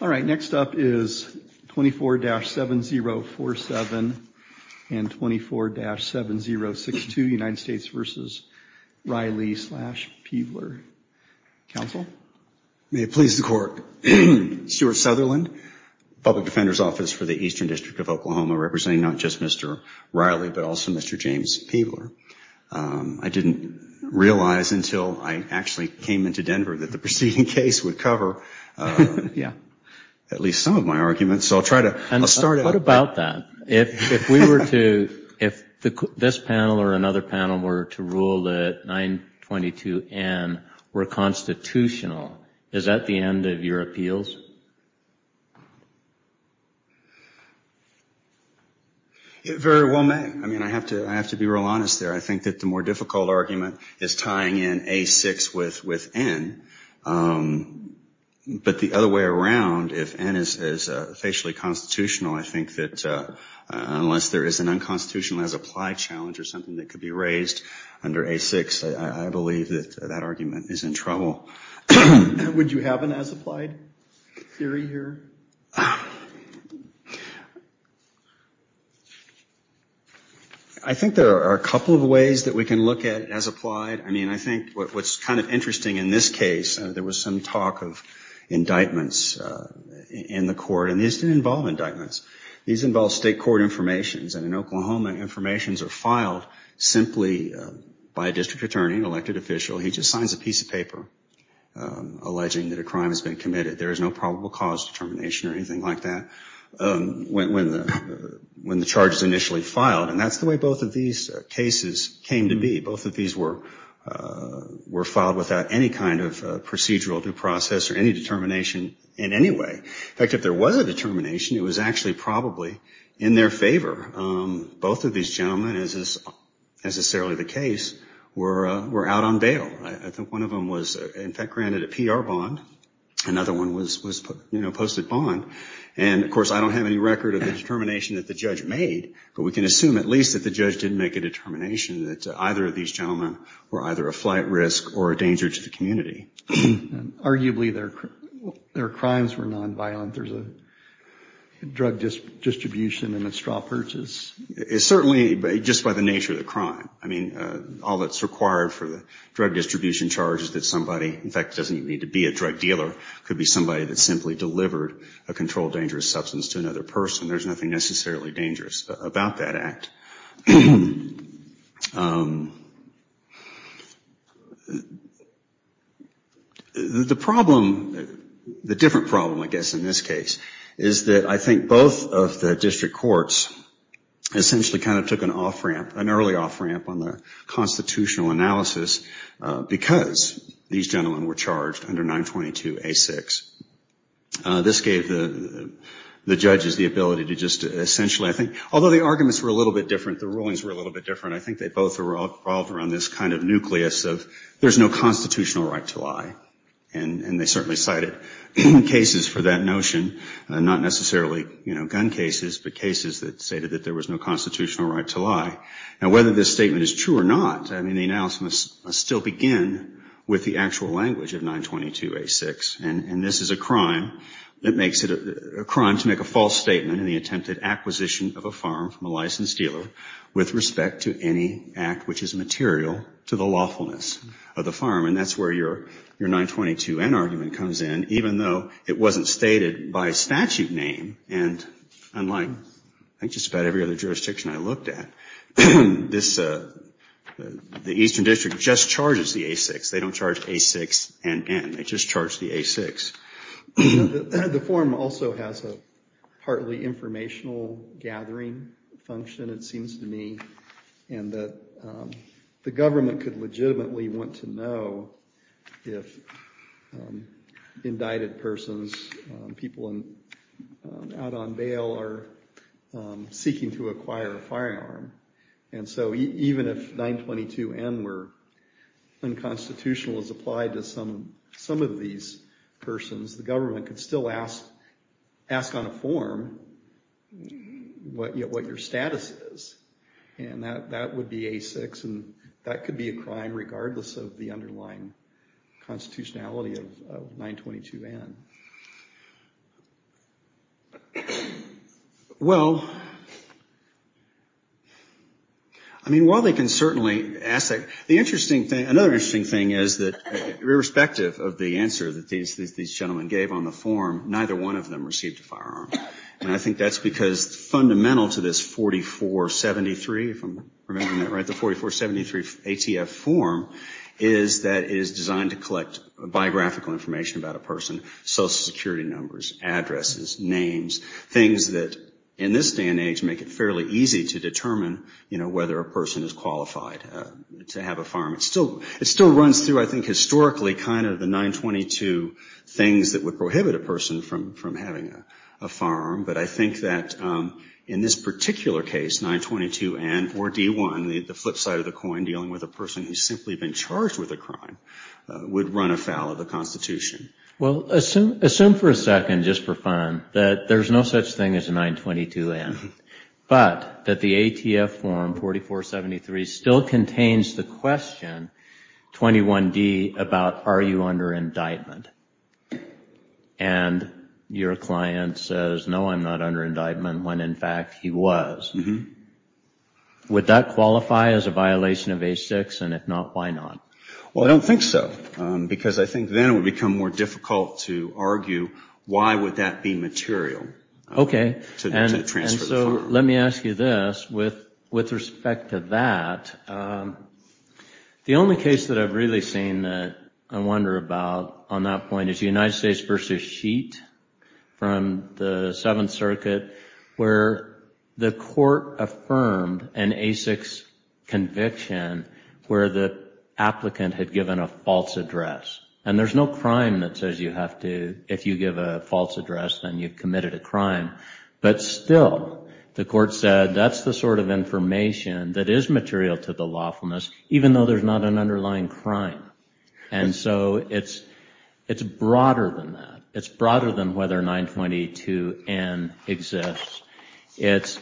All right, next up is 24-7047 and 24-7062, United States v. Reilly slash Peebler, counsel. May it please the court. Stuart Sutherland, Public Defender's Office for the Eastern District of Oklahoma, representing not just Mr. Reilly but also Mr. James Peebler. I didn't realize until I actually came into Denver that the preceding case would cover at least some of my arguments, so I'll try to start out. What about that? If this panel or another panel were to rule that 922N were constitutional, is that the end of your appeals? Very well meant. I mean, I have to be real honest there. I think that the more difficult argument is tying in A6 with N, but the other way around, if N is facially constitutional, I think that unless there is an unconstitutional as-applied challenge or something that could be raised under A6, I believe that that argument is in trouble. Would you have an as-applied theory here? I think there are a couple of ways that we can look at as-applied. I mean, I think what's kind of interesting in this case, there was some talk of indictments in the court, and these didn't involve indictments. These involve state court informations, and in Oklahoma, informations are filed simply by a district attorney, elected official. He just signs a piece of paper alleging that a crime has been committed. There is no probable cause determination or anything like that when the charge is initially filed, and that's the way both of these cases came to be. Both of these were filed without any kind of procedural due process or any determination in any way. In fact, if there was a determination, it was actually probably in their favor. Both of these gentlemen, as is necessarily the case, were out on bail. I think one of them was, in fact, granted a PR bond. Another one was posted bond, and of course, I don't have any record of the determination that the judge made, but we can assume at least that the judge didn't make a determination that either of these gentlemen were either a flight risk or a danger to the community. Arguably, their crimes were nonviolent. There's a drug distribution and a straw purchase. It's certainly just by the nature of the crime. I mean, all that's required for the drug distribution charge is that somebody, in fact, doesn't need to be a drug dealer, could be somebody that simply delivered a controlled dangerous substance to another person. There's nothing necessarily dangerous about that act. The problem, the different problem, I guess, in this case, is that I think both of the district courts essentially kind of took an off-ramp, an early off-ramp on the constitutional analysis because these gentlemen were charged under 922A6. This gave the judges the ability to just essentially, I think, although the arguments were a little bit different, the rulings were a little bit different, I think they both revolved around this kind of nucleus of there's no constitutional right to lie. And they certainly cited cases for that notion, not necessarily gun cases, but cases that stated that there was no constitutional right to lie. And whether this statement is true or not, the analysis must still begin with the actual language of 922A6. And this is a crime that makes it a crime to make a false statement in the attempted acquisition of a farm from a licensed dealer with respect to any act which is material to the lawfulness of the farm. And that's where your 922N argument comes in, even though it wasn't stated by statute name. And unlike, I think, just about every other jurisdiction I looked at, the Eastern District just charges the A6. They don't charge A6NN. They just charge the A6. The form also has a partly informational gathering function, it seems to me, and that the government could legitimately want to know if indicted persons, people out on bail, are seeking to acquire a firearm. And so even if 922N were unconstitutional as applied to some of these persons, the government could still ask on a form what your status is. And that would be A6. And that could be a crime regardless of the underlying constitutionality of 922N. Well, I mean, while they can certainly ask that, the interesting thing, another interesting thing is that irrespective of the answer that these gentlemen gave on the form, neither one of them received a firearm. And I think that's because fundamental to this 4473, if I'm remembering that right, the 4473 ATF form, is that it is designed to collect biographical information about a person, social security numbers, addresses, names, things that in this day and age make it fairly easy to determine, you know, whether a person is qualified to have a firearm. It still runs through, I think, historically kind of the 922 things that would prohibit a person from having a firearm. But I think that in this particular case, 922N or D1, the flip side of the coin, dealing with a person who's simply been charged with a crime, would run afoul of the Constitution. Well, assume for a second, just for fun, that there's no such thing as a 922N, but that the ATF form 4473 still contains the question, 21D, about are you under indictment? And your client says, no, I'm not under indictment, when in fact he was. Would that qualify as a violation of A6? And if not, why not? Well, I don't think so, because I think then it would become more difficult to argue why would that be Okay. And so let me ask you this. With respect to that, the only case that I've really seen that I wonder about on that point is the United States v. Sheet from the Seventh Circuit, where the court affirmed an A6 conviction where the applicant had given a false address. And there's no crime that says you have to, if you give a false address, then you've committed a crime. But still, the court said that's the sort of information that is material to the lawfulness, even though there's not an underlying crime. And so it's broader than that. It's broader than whether 922N exists. Is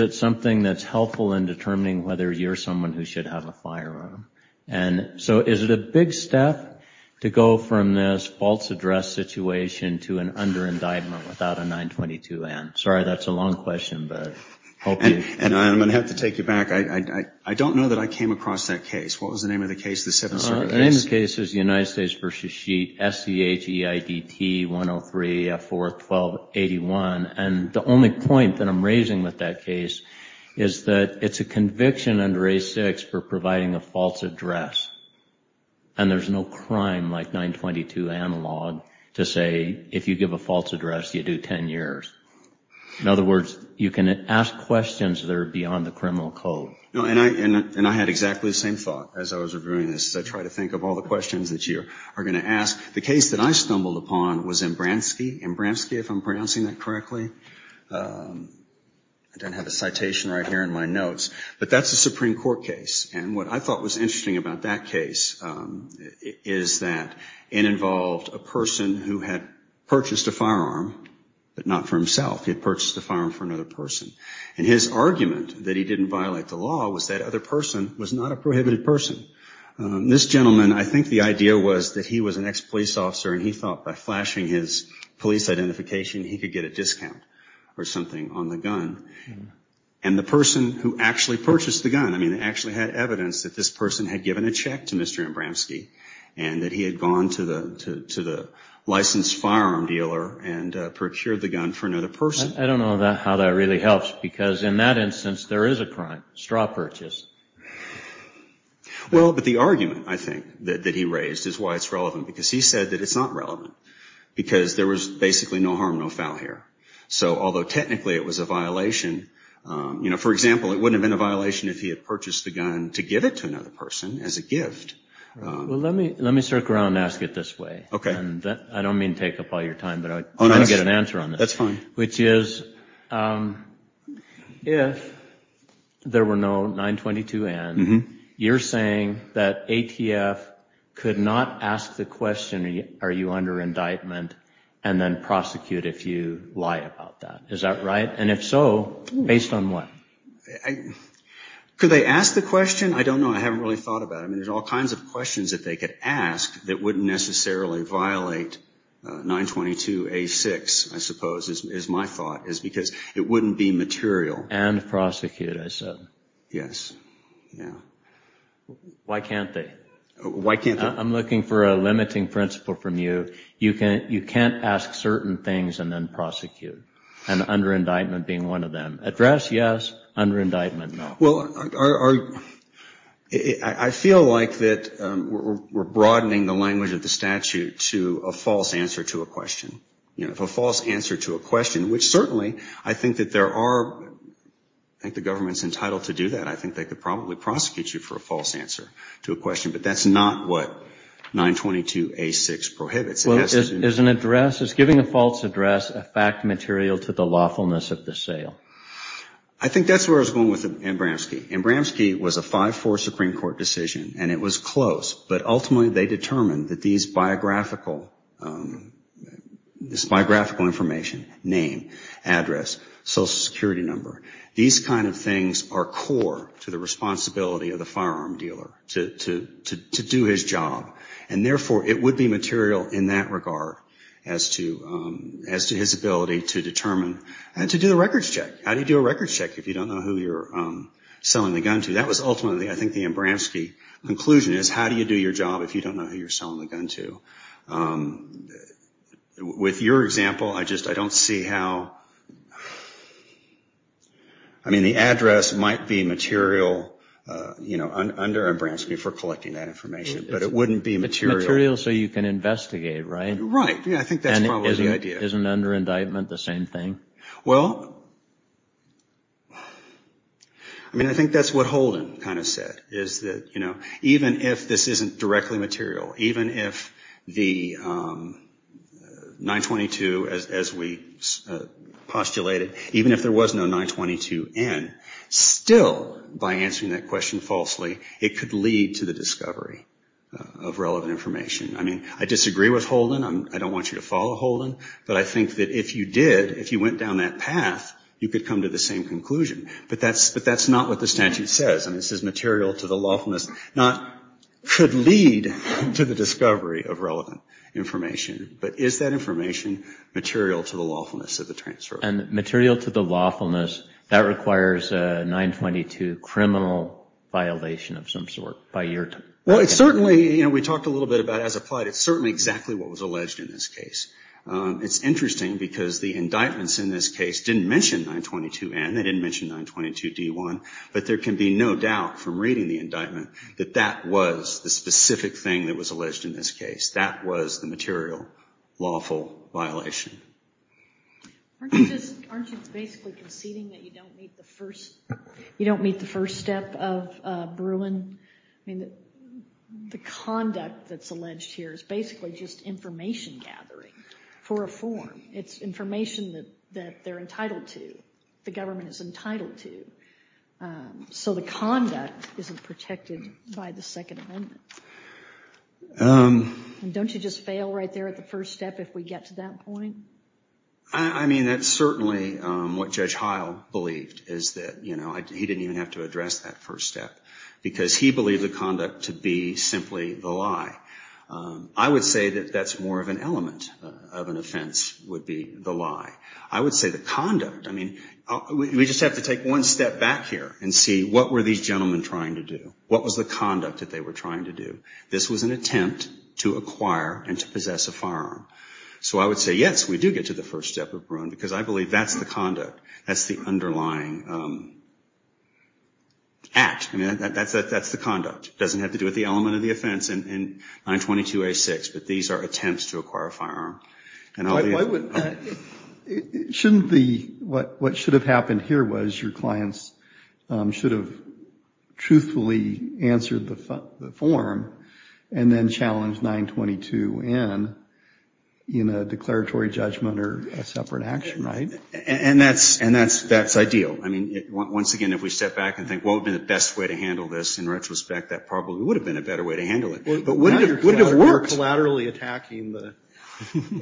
it something that's helpful in determining whether you're someone who should have a firearm? And so is it a big step to go from this false address situation to an under indictment without a 922N? Sorry, that's a long question. And I'm going to have to take you back. I don't know that I came across that case. What was the name of the case, the Seventh Circuit case? The name of the case is the United States v. Sheet, S-E-H-E-I-D-T-103-F-4-12-81. And the only point that I'm raising with that case is that it's a conviction under A-6 for providing a false address. And there's no crime like 922 analog to say, if you give a false address, you do 10 years. In other words, you can ask questions that are beyond the criminal code. And I had exactly the same thought as I was reviewing this. I tried to think of all the questions that you are going to ask. The case that I stumbled upon was Imbransky. Imbransky, if I'm pronouncing that correctly. I don't have a citation right here in my notes, but that's a Supreme Court case. And what I thought was interesting about that case is that it involved a person who had purchased a firearm, but not for himself. He had purchased a firearm for another person. And his argument that he didn't violate the law was that other person was not a prohibited person. This gentleman, I think the idea was that he was an ex-police officer and he thought by flashing his police identification, he could get a discount or something on the gun. And the person who actually purchased the gun, I mean, actually had evidence that this person had given a check to Mr. Imbransky and that he had gone to the licensed firearm dealer and procured the gun for another person. I don't know how that really helps, because in that instance, there is a crime, straw purchase. Well, but the argument, I think, that he raised is why it's relevant, because he said that it's not relevant. Because there was basically no harm, no foul here. So although technically it was a violation, you know, for example, it wouldn't have been a violation if he had purchased the gun to give it to another person as a gift. Well, let me circle around and ask it this way. Okay. I don't mean to take up all your time, but I want to get an answer on this. That's fine. Which is, if there were no 922N, you're saying that ATF could not ask the question, are you under indictment, and then prosecute if you lie about that. Is that right? And if so, based on what? Could they ask the question? I don't know. I haven't really thought about it. I mean, there's all kinds of questions that they could ask that wouldn't necessarily violate 922A6, I suppose, is my thought, is because it wouldn't be material. And prosecute, I said. Yes. Yeah. Why can't they? Why can't they? I'm looking for a limiting principle from you. You can't ask certain things and then prosecute, and under indictment being one of them. Address, yes. Under indictment, no. Well, I feel like that we're broadening the language of the statute to a false answer to a question. You know, if a false answer to a question, which certainly I think that there are, I think the government's entitled to do that. I think they could probably prosecute you for a false answer to a question, but that's not what 922A6 prohibits. Well, is an address, is giving a false address a fact material to the lawfulness of the sale? I think that's where I was going with Ambramsky. Ambramsky was a 5-4 Supreme Court decision, and it was close, but ultimately they determined that these biographical information, name, address, Social Security number, these kind of things are core to the responsibility of the firearm dealer to do his job. And therefore, it would be material in that regard as to his ability to determine, and to do a records check. How do you do a records check if you don't know who you're selling the gun to? That was ultimately, I think, the Ambramsky conclusion is, how do you do your job if you don't know who you're selling the gun to? With your example, I just, I don't see how, I mean, the address might be material, you know, under Ambramsky for collecting that information, but it wouldn't be material. It's material so you can investigate, right? Right. Yeah, I think that's probably the idea. And isn't under indictment the same thing? Well, I mean, I think that's what Holden kind of said, is that, you know, even if this isn't directly material, even if the 922, as we postulated, even if there was no 922N, still, by answering that question falsely, it could lead to the discovery of relevant information. I mean, I disagree with Holden. I don't want you to follow Holden. But I think that if you did, if you went down that path, you could come to the same conclusion. But that's not what the statute says. I mean, it says material to the lawfulness, not could lead to the discovery of relevant information. But is that information material to the lawfulness of the transfer? And material to the lawfulness, that requires a 922 criminal violation of some sort by your time. Well, it certainly, you know, we talked a little bit about as applied. It's certainly exactly what was alleged in this case. It's interesting because the indictments in this case didn't mention 922N. They didn't mention 922D1. But there can be no doubt from reading the indictment that that was the specific thing that was alleged in this case. That was the material lawful violation. Aren't you just, aren't you basically conceding that you don't meet the first, you don't meet the first step of Bruin? I mean, the conduct that's alleged here is basically just information gathering for a form. It's information that they're entitled to, the government is entitled to. So the conduct isn't protected by the Second Amendment. Don't you just fail right there at the first step if we get to that point? I mean, that's certainly what Judge Heil believed, is that, you know, he didn't even have to address that first step. Because he believed the conduct to be simply the lie. I would say that that's more of an element of an offense would be the lie. I would say the conduct, I mean, we just have to take one step back here and see what were these gentlemen trying to do? What was the conduct that they were trying to do? This was an attempt to acquire and to possess a firearm. So I would say, yes, we do get to the first step of Bruin, because I believe that's the conduct. That's the underlying act. I mean, that's the conduct. It doesn't have to do with the element of the offense in 922A6, but these are attempts to acquire a firearm. Shouldn't the, what should have happened here was your clients should have truthfully answered the form, and then challenged 922N in a declaratory judgment or a separate action, right? And that's ideal. I mean, once again, if we step back and think what would have been the best way to handle this, in retrospect, that probably would have been a better way to handle it. You're collaterally attacking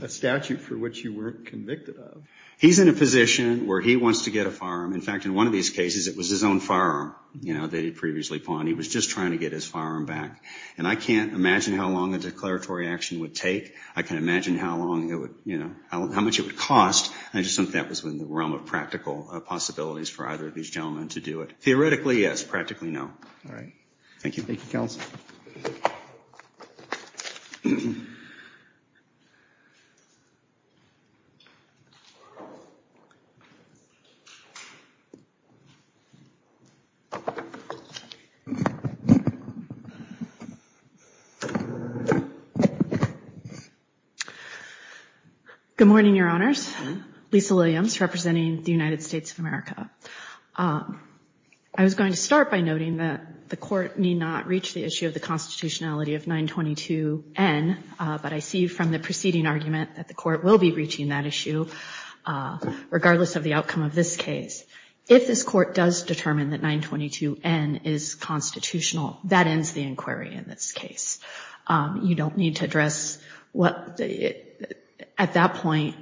a statute for which you weren't convicted of. He's in a position where he wants to get a firearm. In fact, in one of these cases, it was his own firearm that he had previously pawned. He was just trying to get his firearm back. And I can't imagine how long a declaratory action would take. I can't imagine how much it would cost. I just think that was in the realm of practical possibilities for either of these gentlemen to do it. Theoretically, yes. Practically, no. All right. Thank you. Thank you, Kelsey. Good morning, Your Honors. Lisa Williams representing the United States of America. I was going to start by noting that the court may not reach the issue of the constitutionality of 922-N. But I see from the preceding argument that the court will be reaching that issue, regardless of the outcome of this case. If this court does determine that 922-N is constitutional, that ends the inquiry in this case. You don't need to address at that point,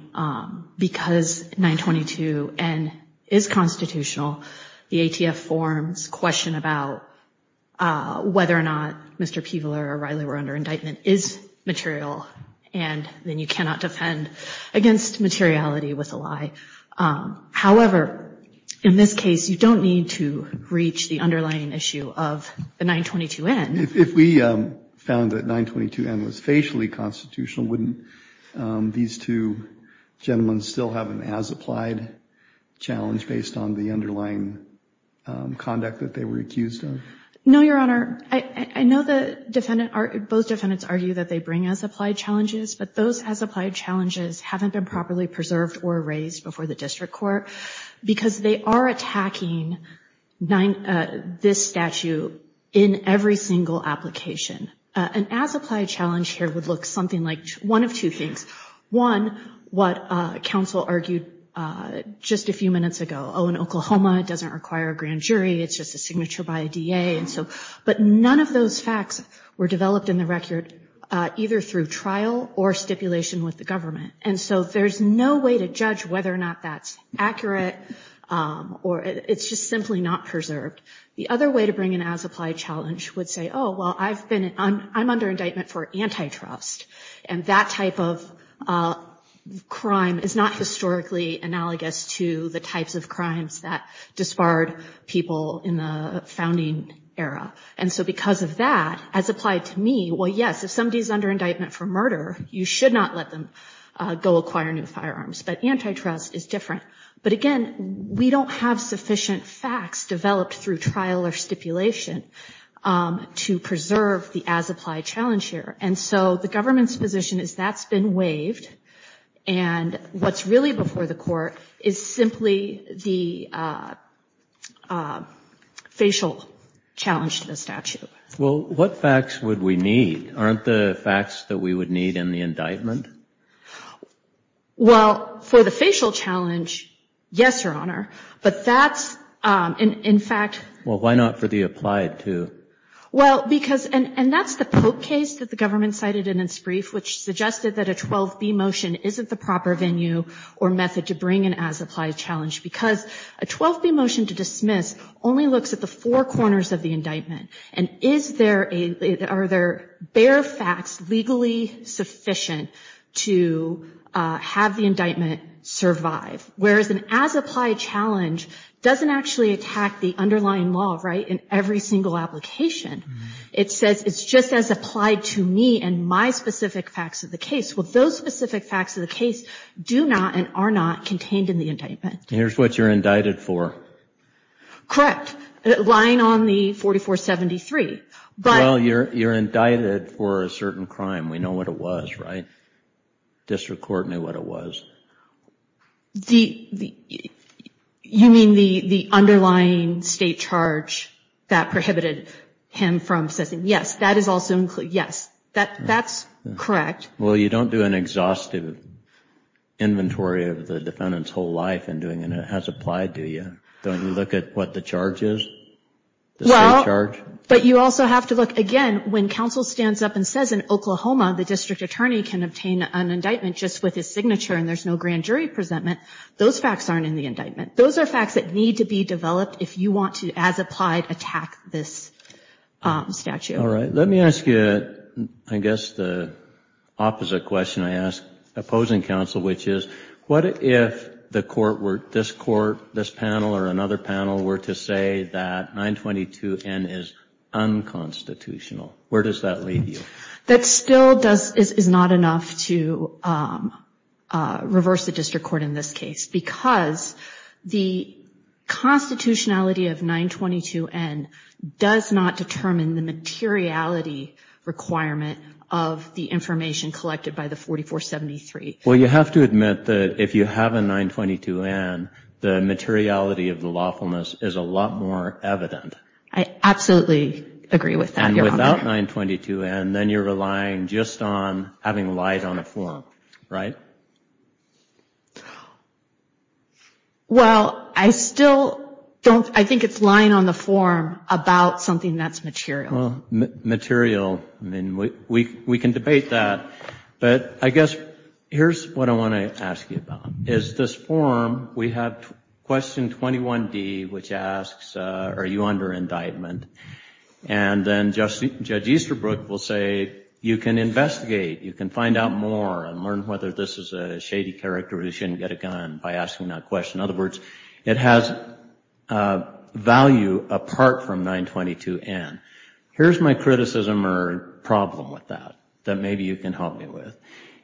because 922-N is constitutional, the ATF forms question about whether or not Mr. Peveler or Riley were under indictment is material. And then you cannot defend against materiality with a lie. However, in this case, you don't need to reach the underlying issue of the 922-N. If we found that 922-N was facially constitutional, wouldn't these two gentlemen still have an as-applied challenge based on the underlying conduct that they were accused of? No, Your Honor. I know both defendants argue that they bring as-applied challenges. But those as-applied challenges haven't been properly preserved or raised before the district court, because they are attacking this statute in every single application. An as-applied challenge here would look something like one of two things. One, what counsel argued just a few minutes ago, oh, in Oklahoma it doesn't require a grand jury, it's just a signature by a DA. But none of those facts were developed in the record either through trial or stipulation with the government. And so there's no way to judge whether or not that's accurate, or it's just simply not preserved. The other way to bring an as-applied challenge would say, oh, well, I'm under indictment for antitrust. And that type of crime is not historically analogous to the types of crimes that disbarred people in the founding era. And so because of that, as applied to me, well, yes, if somebody is under indictment for murder, you should not let them go acquire new firearms. But antitrust is different. But again, we don't have sufficient facts developed through trial or stipulation to preserve the as-applied challenge here. And so the government's position is that's been waived. And what's really before the court is simply the facial challenge to the statute. Well, what facts would we need? Aren't the facts that we would need in the indictment? Well, for the facial challenge, yes, Your Honor. But that's, in fact... Well, why not for the applied too? Well, because, and that's the Pope case that the government cited in its brief, which suggested that a 12B motion isn't the proper venue or method to bring an as-applied challenge because a 12B motion to dismiss only looks at the four corners of the indictment. And is there a, are there bare facts legally sufficient to have the indictment survive? Whereas an as-applied challenge doesn't actually attack the underlying law, right, in every single application. It says it's just as applied to me and my specific facts of the case. Well, those specific facts of the case do not and are not contained in the indictment. Here's what you're indicted for. Correct. Lying on the 4473. Well, you're indicted for a certain crime. We know what it was, right? District Court knew what it was. You mean the underlying state charge that prohibited him from assessing? Yes, that is also included. Yes, that's correct. Well, you don't do an exhaustive inventory of the defendant's whole life in doing an as-applied, do you? Don't you look at what the charge is, the state charge? Well, but you also have to look, again, when counsel stands up and says in Oklahoma the district attorney can obtain an indictment just with his signature and there's no grand jury presentment, those facts aren't in the indictment. Those are facts that need to be developed if you want to, as applied, attack this statute. All right. Let me ask you, I guess, the opposite question I ask opposing counsel, which is what if this court, this panel or another panel were to say that 922N is unconstitutional? Where does that leave you? That still is not enough to reverse the district court in this case because the constitutionality of 922N does not determine the materiality requirement of the information collected by the 4473. Well, you have to admit that if you have a 922N, the materiality of the lawfulness is a lot more evident. I absolutely agree with that, Your Honor. And without 922N, then you're relying just on having lies on the form, right? Well, I still don't, I think it's lying on the form about something that's material. Well, material, I mean, we can debate that. But I guess here's what I want to ask you about. Is this form, we have question 21D, which asks, are you under indictment? And then Judge Easterbrook will say, you can investigate. You can find out more and learn whether this is a shady character who shouldn't get a gun by asking that question. In other words, it has value apart from 922N. Here's my criticism or problem with that, that maybe you can help me with.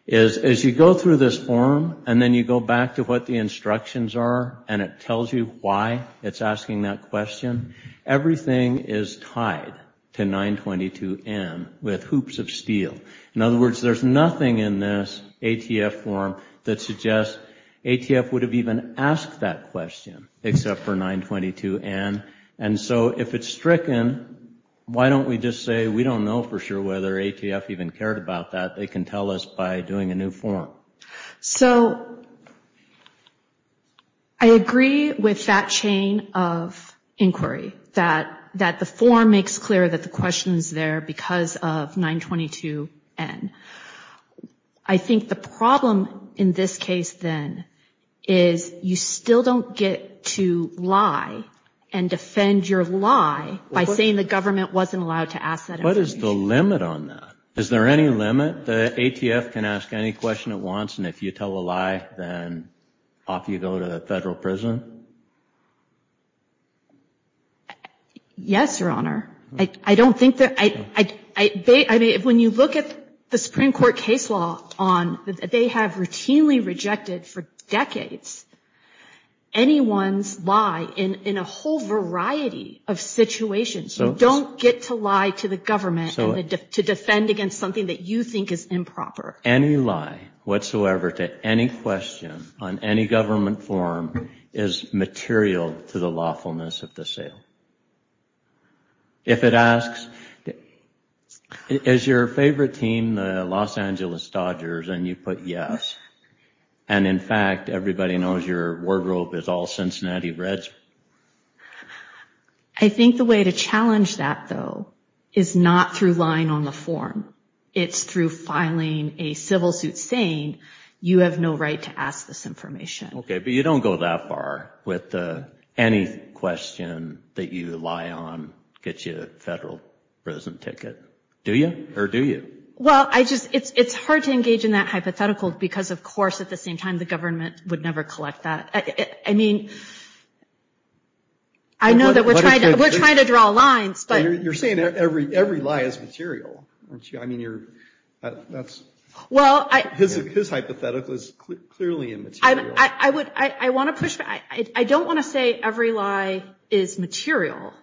Is as you go through this form and then you go back to what the instructions are and it tells you why it's asking that question, everything is tied to 922N with hoops of steel. In other words, there's nothing in this ATF form that suggests ATF would have even asked that question except for 922N. And so if it's stricken, why don't we just say we don't know for sure whether ATF even cared about that? They can tell us by doing a new form. So I agree with that chain of inquiry, that the form makes clear that the question is there because of 922N. I think the problem in this case then is you still don't get to lie and defend your lie by saying the government wasn't allowed to ask that question. What is the limit on that? Is there any limit that ATF can ask any question it wants and if you tell a lie, then off you go to the federal prison? Yes, Your Honor. When you look at the Supreme Court case law, they have routinely rejected for decades anyone's lie in a whole variety of situations. You don't get to lie to the government to defend against something that you think is improper. Any lie whatsoever to any question on any government form is material to the lawfulness of the sale. If it asks, is your favorite team the Los Angeles Dodgers? And you put yes. And in fact, everybody knows your wardrobe is all Cincinnati Reds. I think the way to challenge that, though, is not through lying on the form. It's through filing a civil suit saying you have no right to ask this information. Okay, but you don't go that far with any question that you lie on gets you a federal prison ticket. Do you or do you? Well, I just it's it's hard to engage in that hypothetical, because, of course, at the same time, the government would never collect that. I mean, I know that we're trying to we're trying to draw lines, but you're saying every every lie is material. I mean, you're that's well, I guess his hypothetical is clearly and I would I want to push back. I don't want to say every lie is material,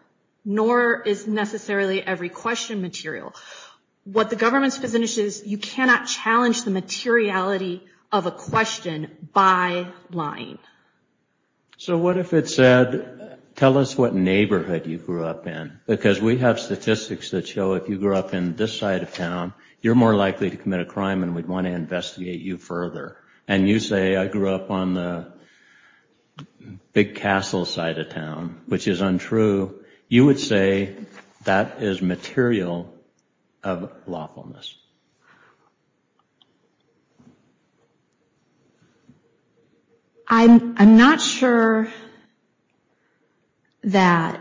nor is necessarily every question material. What the government's position is, you cannot challenge the materiality of a question by lying. So what if it said, tell us what neighborhood you grew up in? Because we have statistics that show if you grew up in this side of town, you're more likely to commit a crime and we'd want to investigate you further. And you say, I grew up on the big castle side of town, which is untrue. You would say that is material of lawfulness. I'm not sure that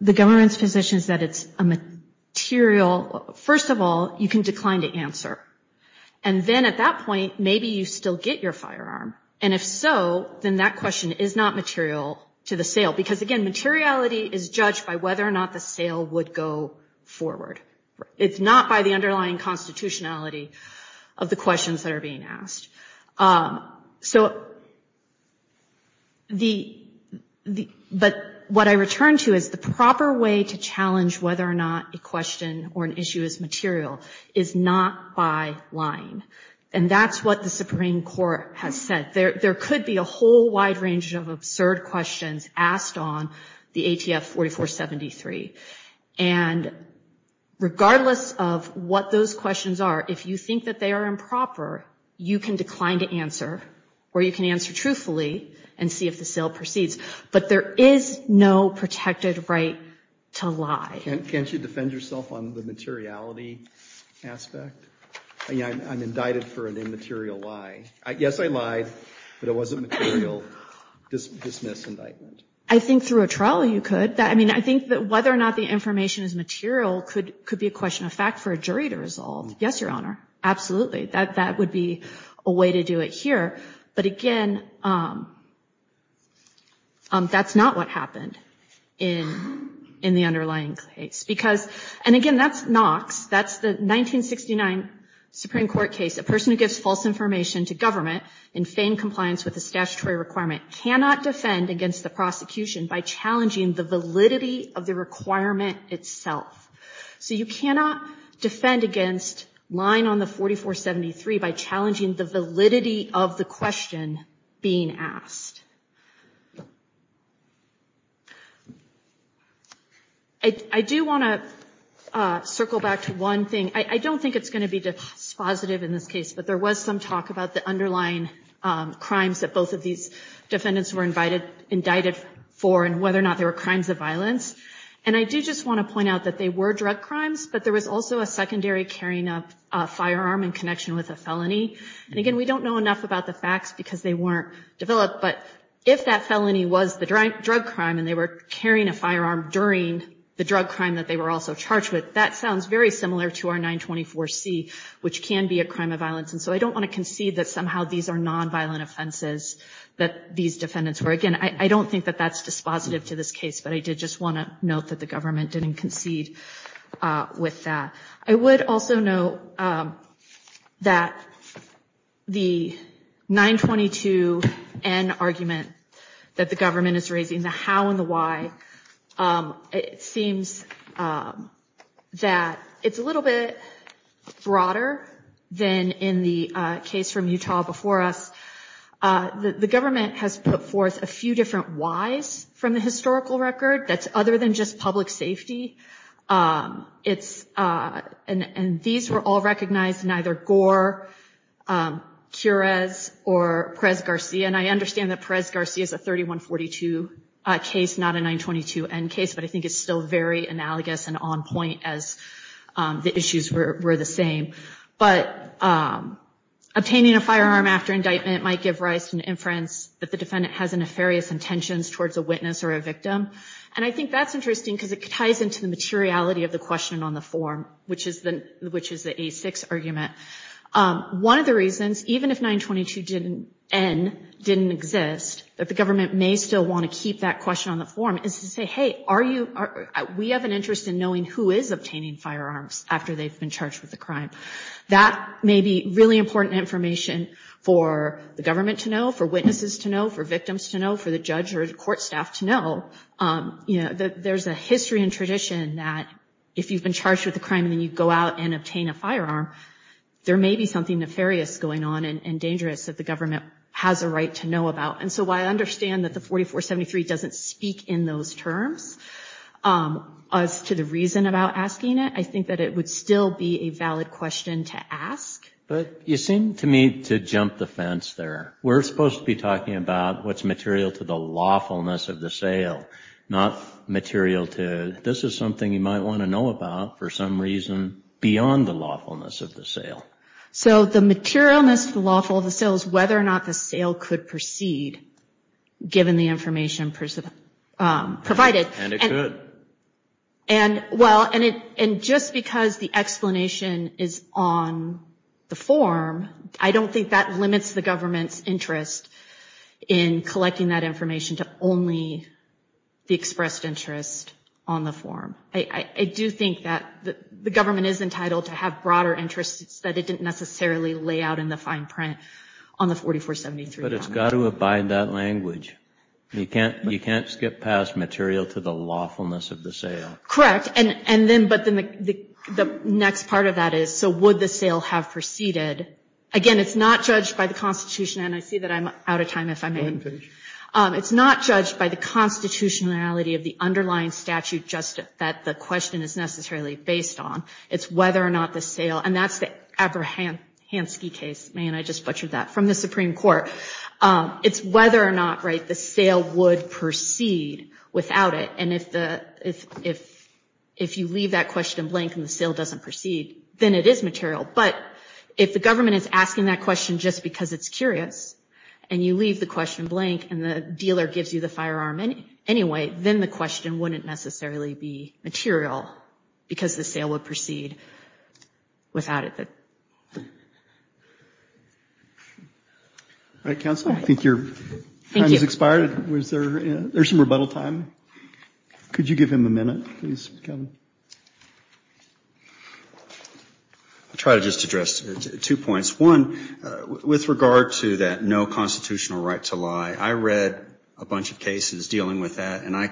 the government's position is that it's a material. First of all, you can decline to answer. And then at that point, maybe you still get your firearm. And if so, then that question is not material to the sale. Because, again, materiality is judged by whether or not the sale would go forward. It's not by the underlying constitutionality of the questions that are being asked. So the but what I return to is the proper way to challenge whether or not a question or an issue is material is not by lying. And that's what the Supreme Court has said. There could be a whole wide range of absurd questions asked on the ATF 4473. And regardless of what those questions are, if you think that they are improper, you can decline to answer or you can answer truthfully and see if the sale proceeds. But there is no protected right to lie. Can't you defend yourself on the materiality aspect? I mean, I'm indicted for an immaterial lie. Yes, I lied, but it wasn't material. I think through a trial you could. I mean, I think that whether or not the information is material could be a question of fact for a jury to resolve. Yes, Your Honor. Absolutely. That would be a way to do it here. But again, that's not what happened in the underlying case because and again, that's Knox. That's the 1969 Supreme Court case. A person who gives false information to government in feigned compliance with the statutory requirement cannot defend against the prosecution by challenging the validity of the requirement itself. So you cannot defend against lying on the 4473 by challenging the validity of the question being asked. I do want to circle back to one thing. I don't think it's going to be dispositive in this case, but there was some talk about the underlying crimes that both of these defendants were indicted for and whether or not they were crimes of violence. And I do just want to point out that they were drug crimes, but there was also a secondary carrying of a firearm in connection with a felony. And again, we don't know enough about the facts because they weren't developed. But if that felony was the drug crime and they were carrying a firearm during the drug crime that they were also charged with, that sounds very similar to our 924C, which can be a crime of violence. And so I don't want to concede that somehow these are nonviolent offenses that these defendants were. Again, I don't think that that's dispositive to this case, but I did just want to note that the government didn't concede with that. I would also note that the 922N argument that the government is raising, the how and the why, it seems that it's a little bit broader than in the case from Utah before us. The government has put forth a few different whys from the historical record that's other than just public safety. And these were all recognized in either Gore, Quirez, or Perez-Garcia. And I understand that Perez-Garcia is a 3142 case, not a 922N case, but I think it's still very analogous and on point as the issues were the same. But obtaining a firearm after indictment might give rise to an inference that the defendant has a nefarious intentions towards a witness or a victim. And I think that's interesting because it ties into the materiality of the question on the form, which is the A6 argument. One of the reasons, even if 922N didn't exist, that the government may still want to keep that question on the form is to say, hey, we have an interest in knowing who is obtaining firearms after they've been charged with a crime. That may be really important information for the government to know, for witnesses to know, for victims to know, for the judge or the court staff to know. There's a history and tradition that if you've been charged with a crime and then you go out and obtain a firearm, there may be something nefarious going on and dangerous that the government has a right to know about. And so I understand that the 4473 doesn't speak in those terms as to the reason about asking it. I think that it would still be a valid question to ask. But you seem to me to jump the fence there. We're supposed to be talking about what's material to the lawfulness of the sale, not material to this is something you might want to know about for some reason beyond the lawfulness of the sale. So the materialness, the lawfulness of the sale is whether or not the sale could proceed, given the information provided. And it could. And just because the explanation is on the form, I don't think that limits the government's interest in collecting that information to only the expressed interest on the form. I do think that the government is entitled to have broader interests that it didn't necessarily lay out in the fine print on the 4473. But it's got to abide that language. You can't skip past material to the lawfulness of the sale. Correct. And then the next part of that is, so would the sale have proceeded? Again, it's not judged by the Constitution. And I see that I'm out of time. It's not judged by the constitutionality of the underlying statute that the question is necessarily based on. It's whether or not the sale, and that's the Abrahamsky case, I just butchered that, from the Supreme Court. It's whether or not the sale would proceed without it. And if you leave that question blank and the sale doesn't proceed, then it is material. But if the government is asking that question just because it's curious, and you leave the question blank and the dealer gives you the firearm anyway, then the question wouldn't necessarily be material, because the sale would proceed without it. All right, counsel, I think your time has expired. There's some rebuttal time. Could you give him a minute, please, Kevin? I'll try to just address two points. One, with regard to that no constitutional right to lie, I read a bunch of cases dealing with that, and I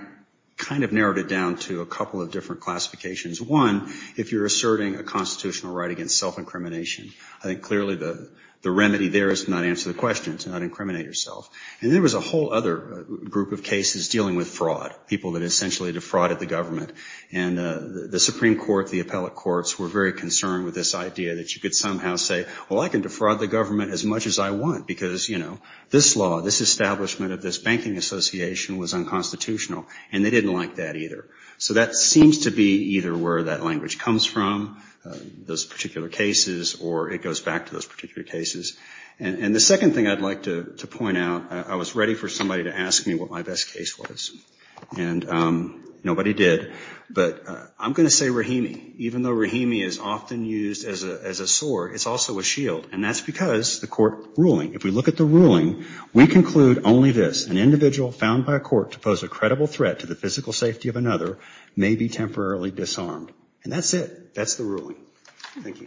kind of narrowed it down to a couple of different classifications. One, if you're asserting a constitutional right against self-incrimination, I think clearly the remedy there is to not answer the question, to not incriminate yourself. And there was a whole other group of cases dealing with fraud, people that essentially defrauded the government. And the Supreme Court, the appellate courts, were very concerned with this idea that you could somehow say, well, I can defraud the government as much as I want, because, you know, this law, this establishment of this banking association was unconstitutional, and they didn't like that either. So that seems to be either where that language comes from, those particular cases, or it goes back to those particular cases. I was ready for somebody to ask me what my best case was, and nobody did. But I'm going to say Rahimi, even though Rahimi is often used as a sword, it's also a shield, and that's because the court ruling. If we look at the ruling, we conclude only this, an individual found by a court to pose a credible threat to the physical safety of another may be temporarily disarmed. And that's it. That's the ruling. Thank you. Thank you.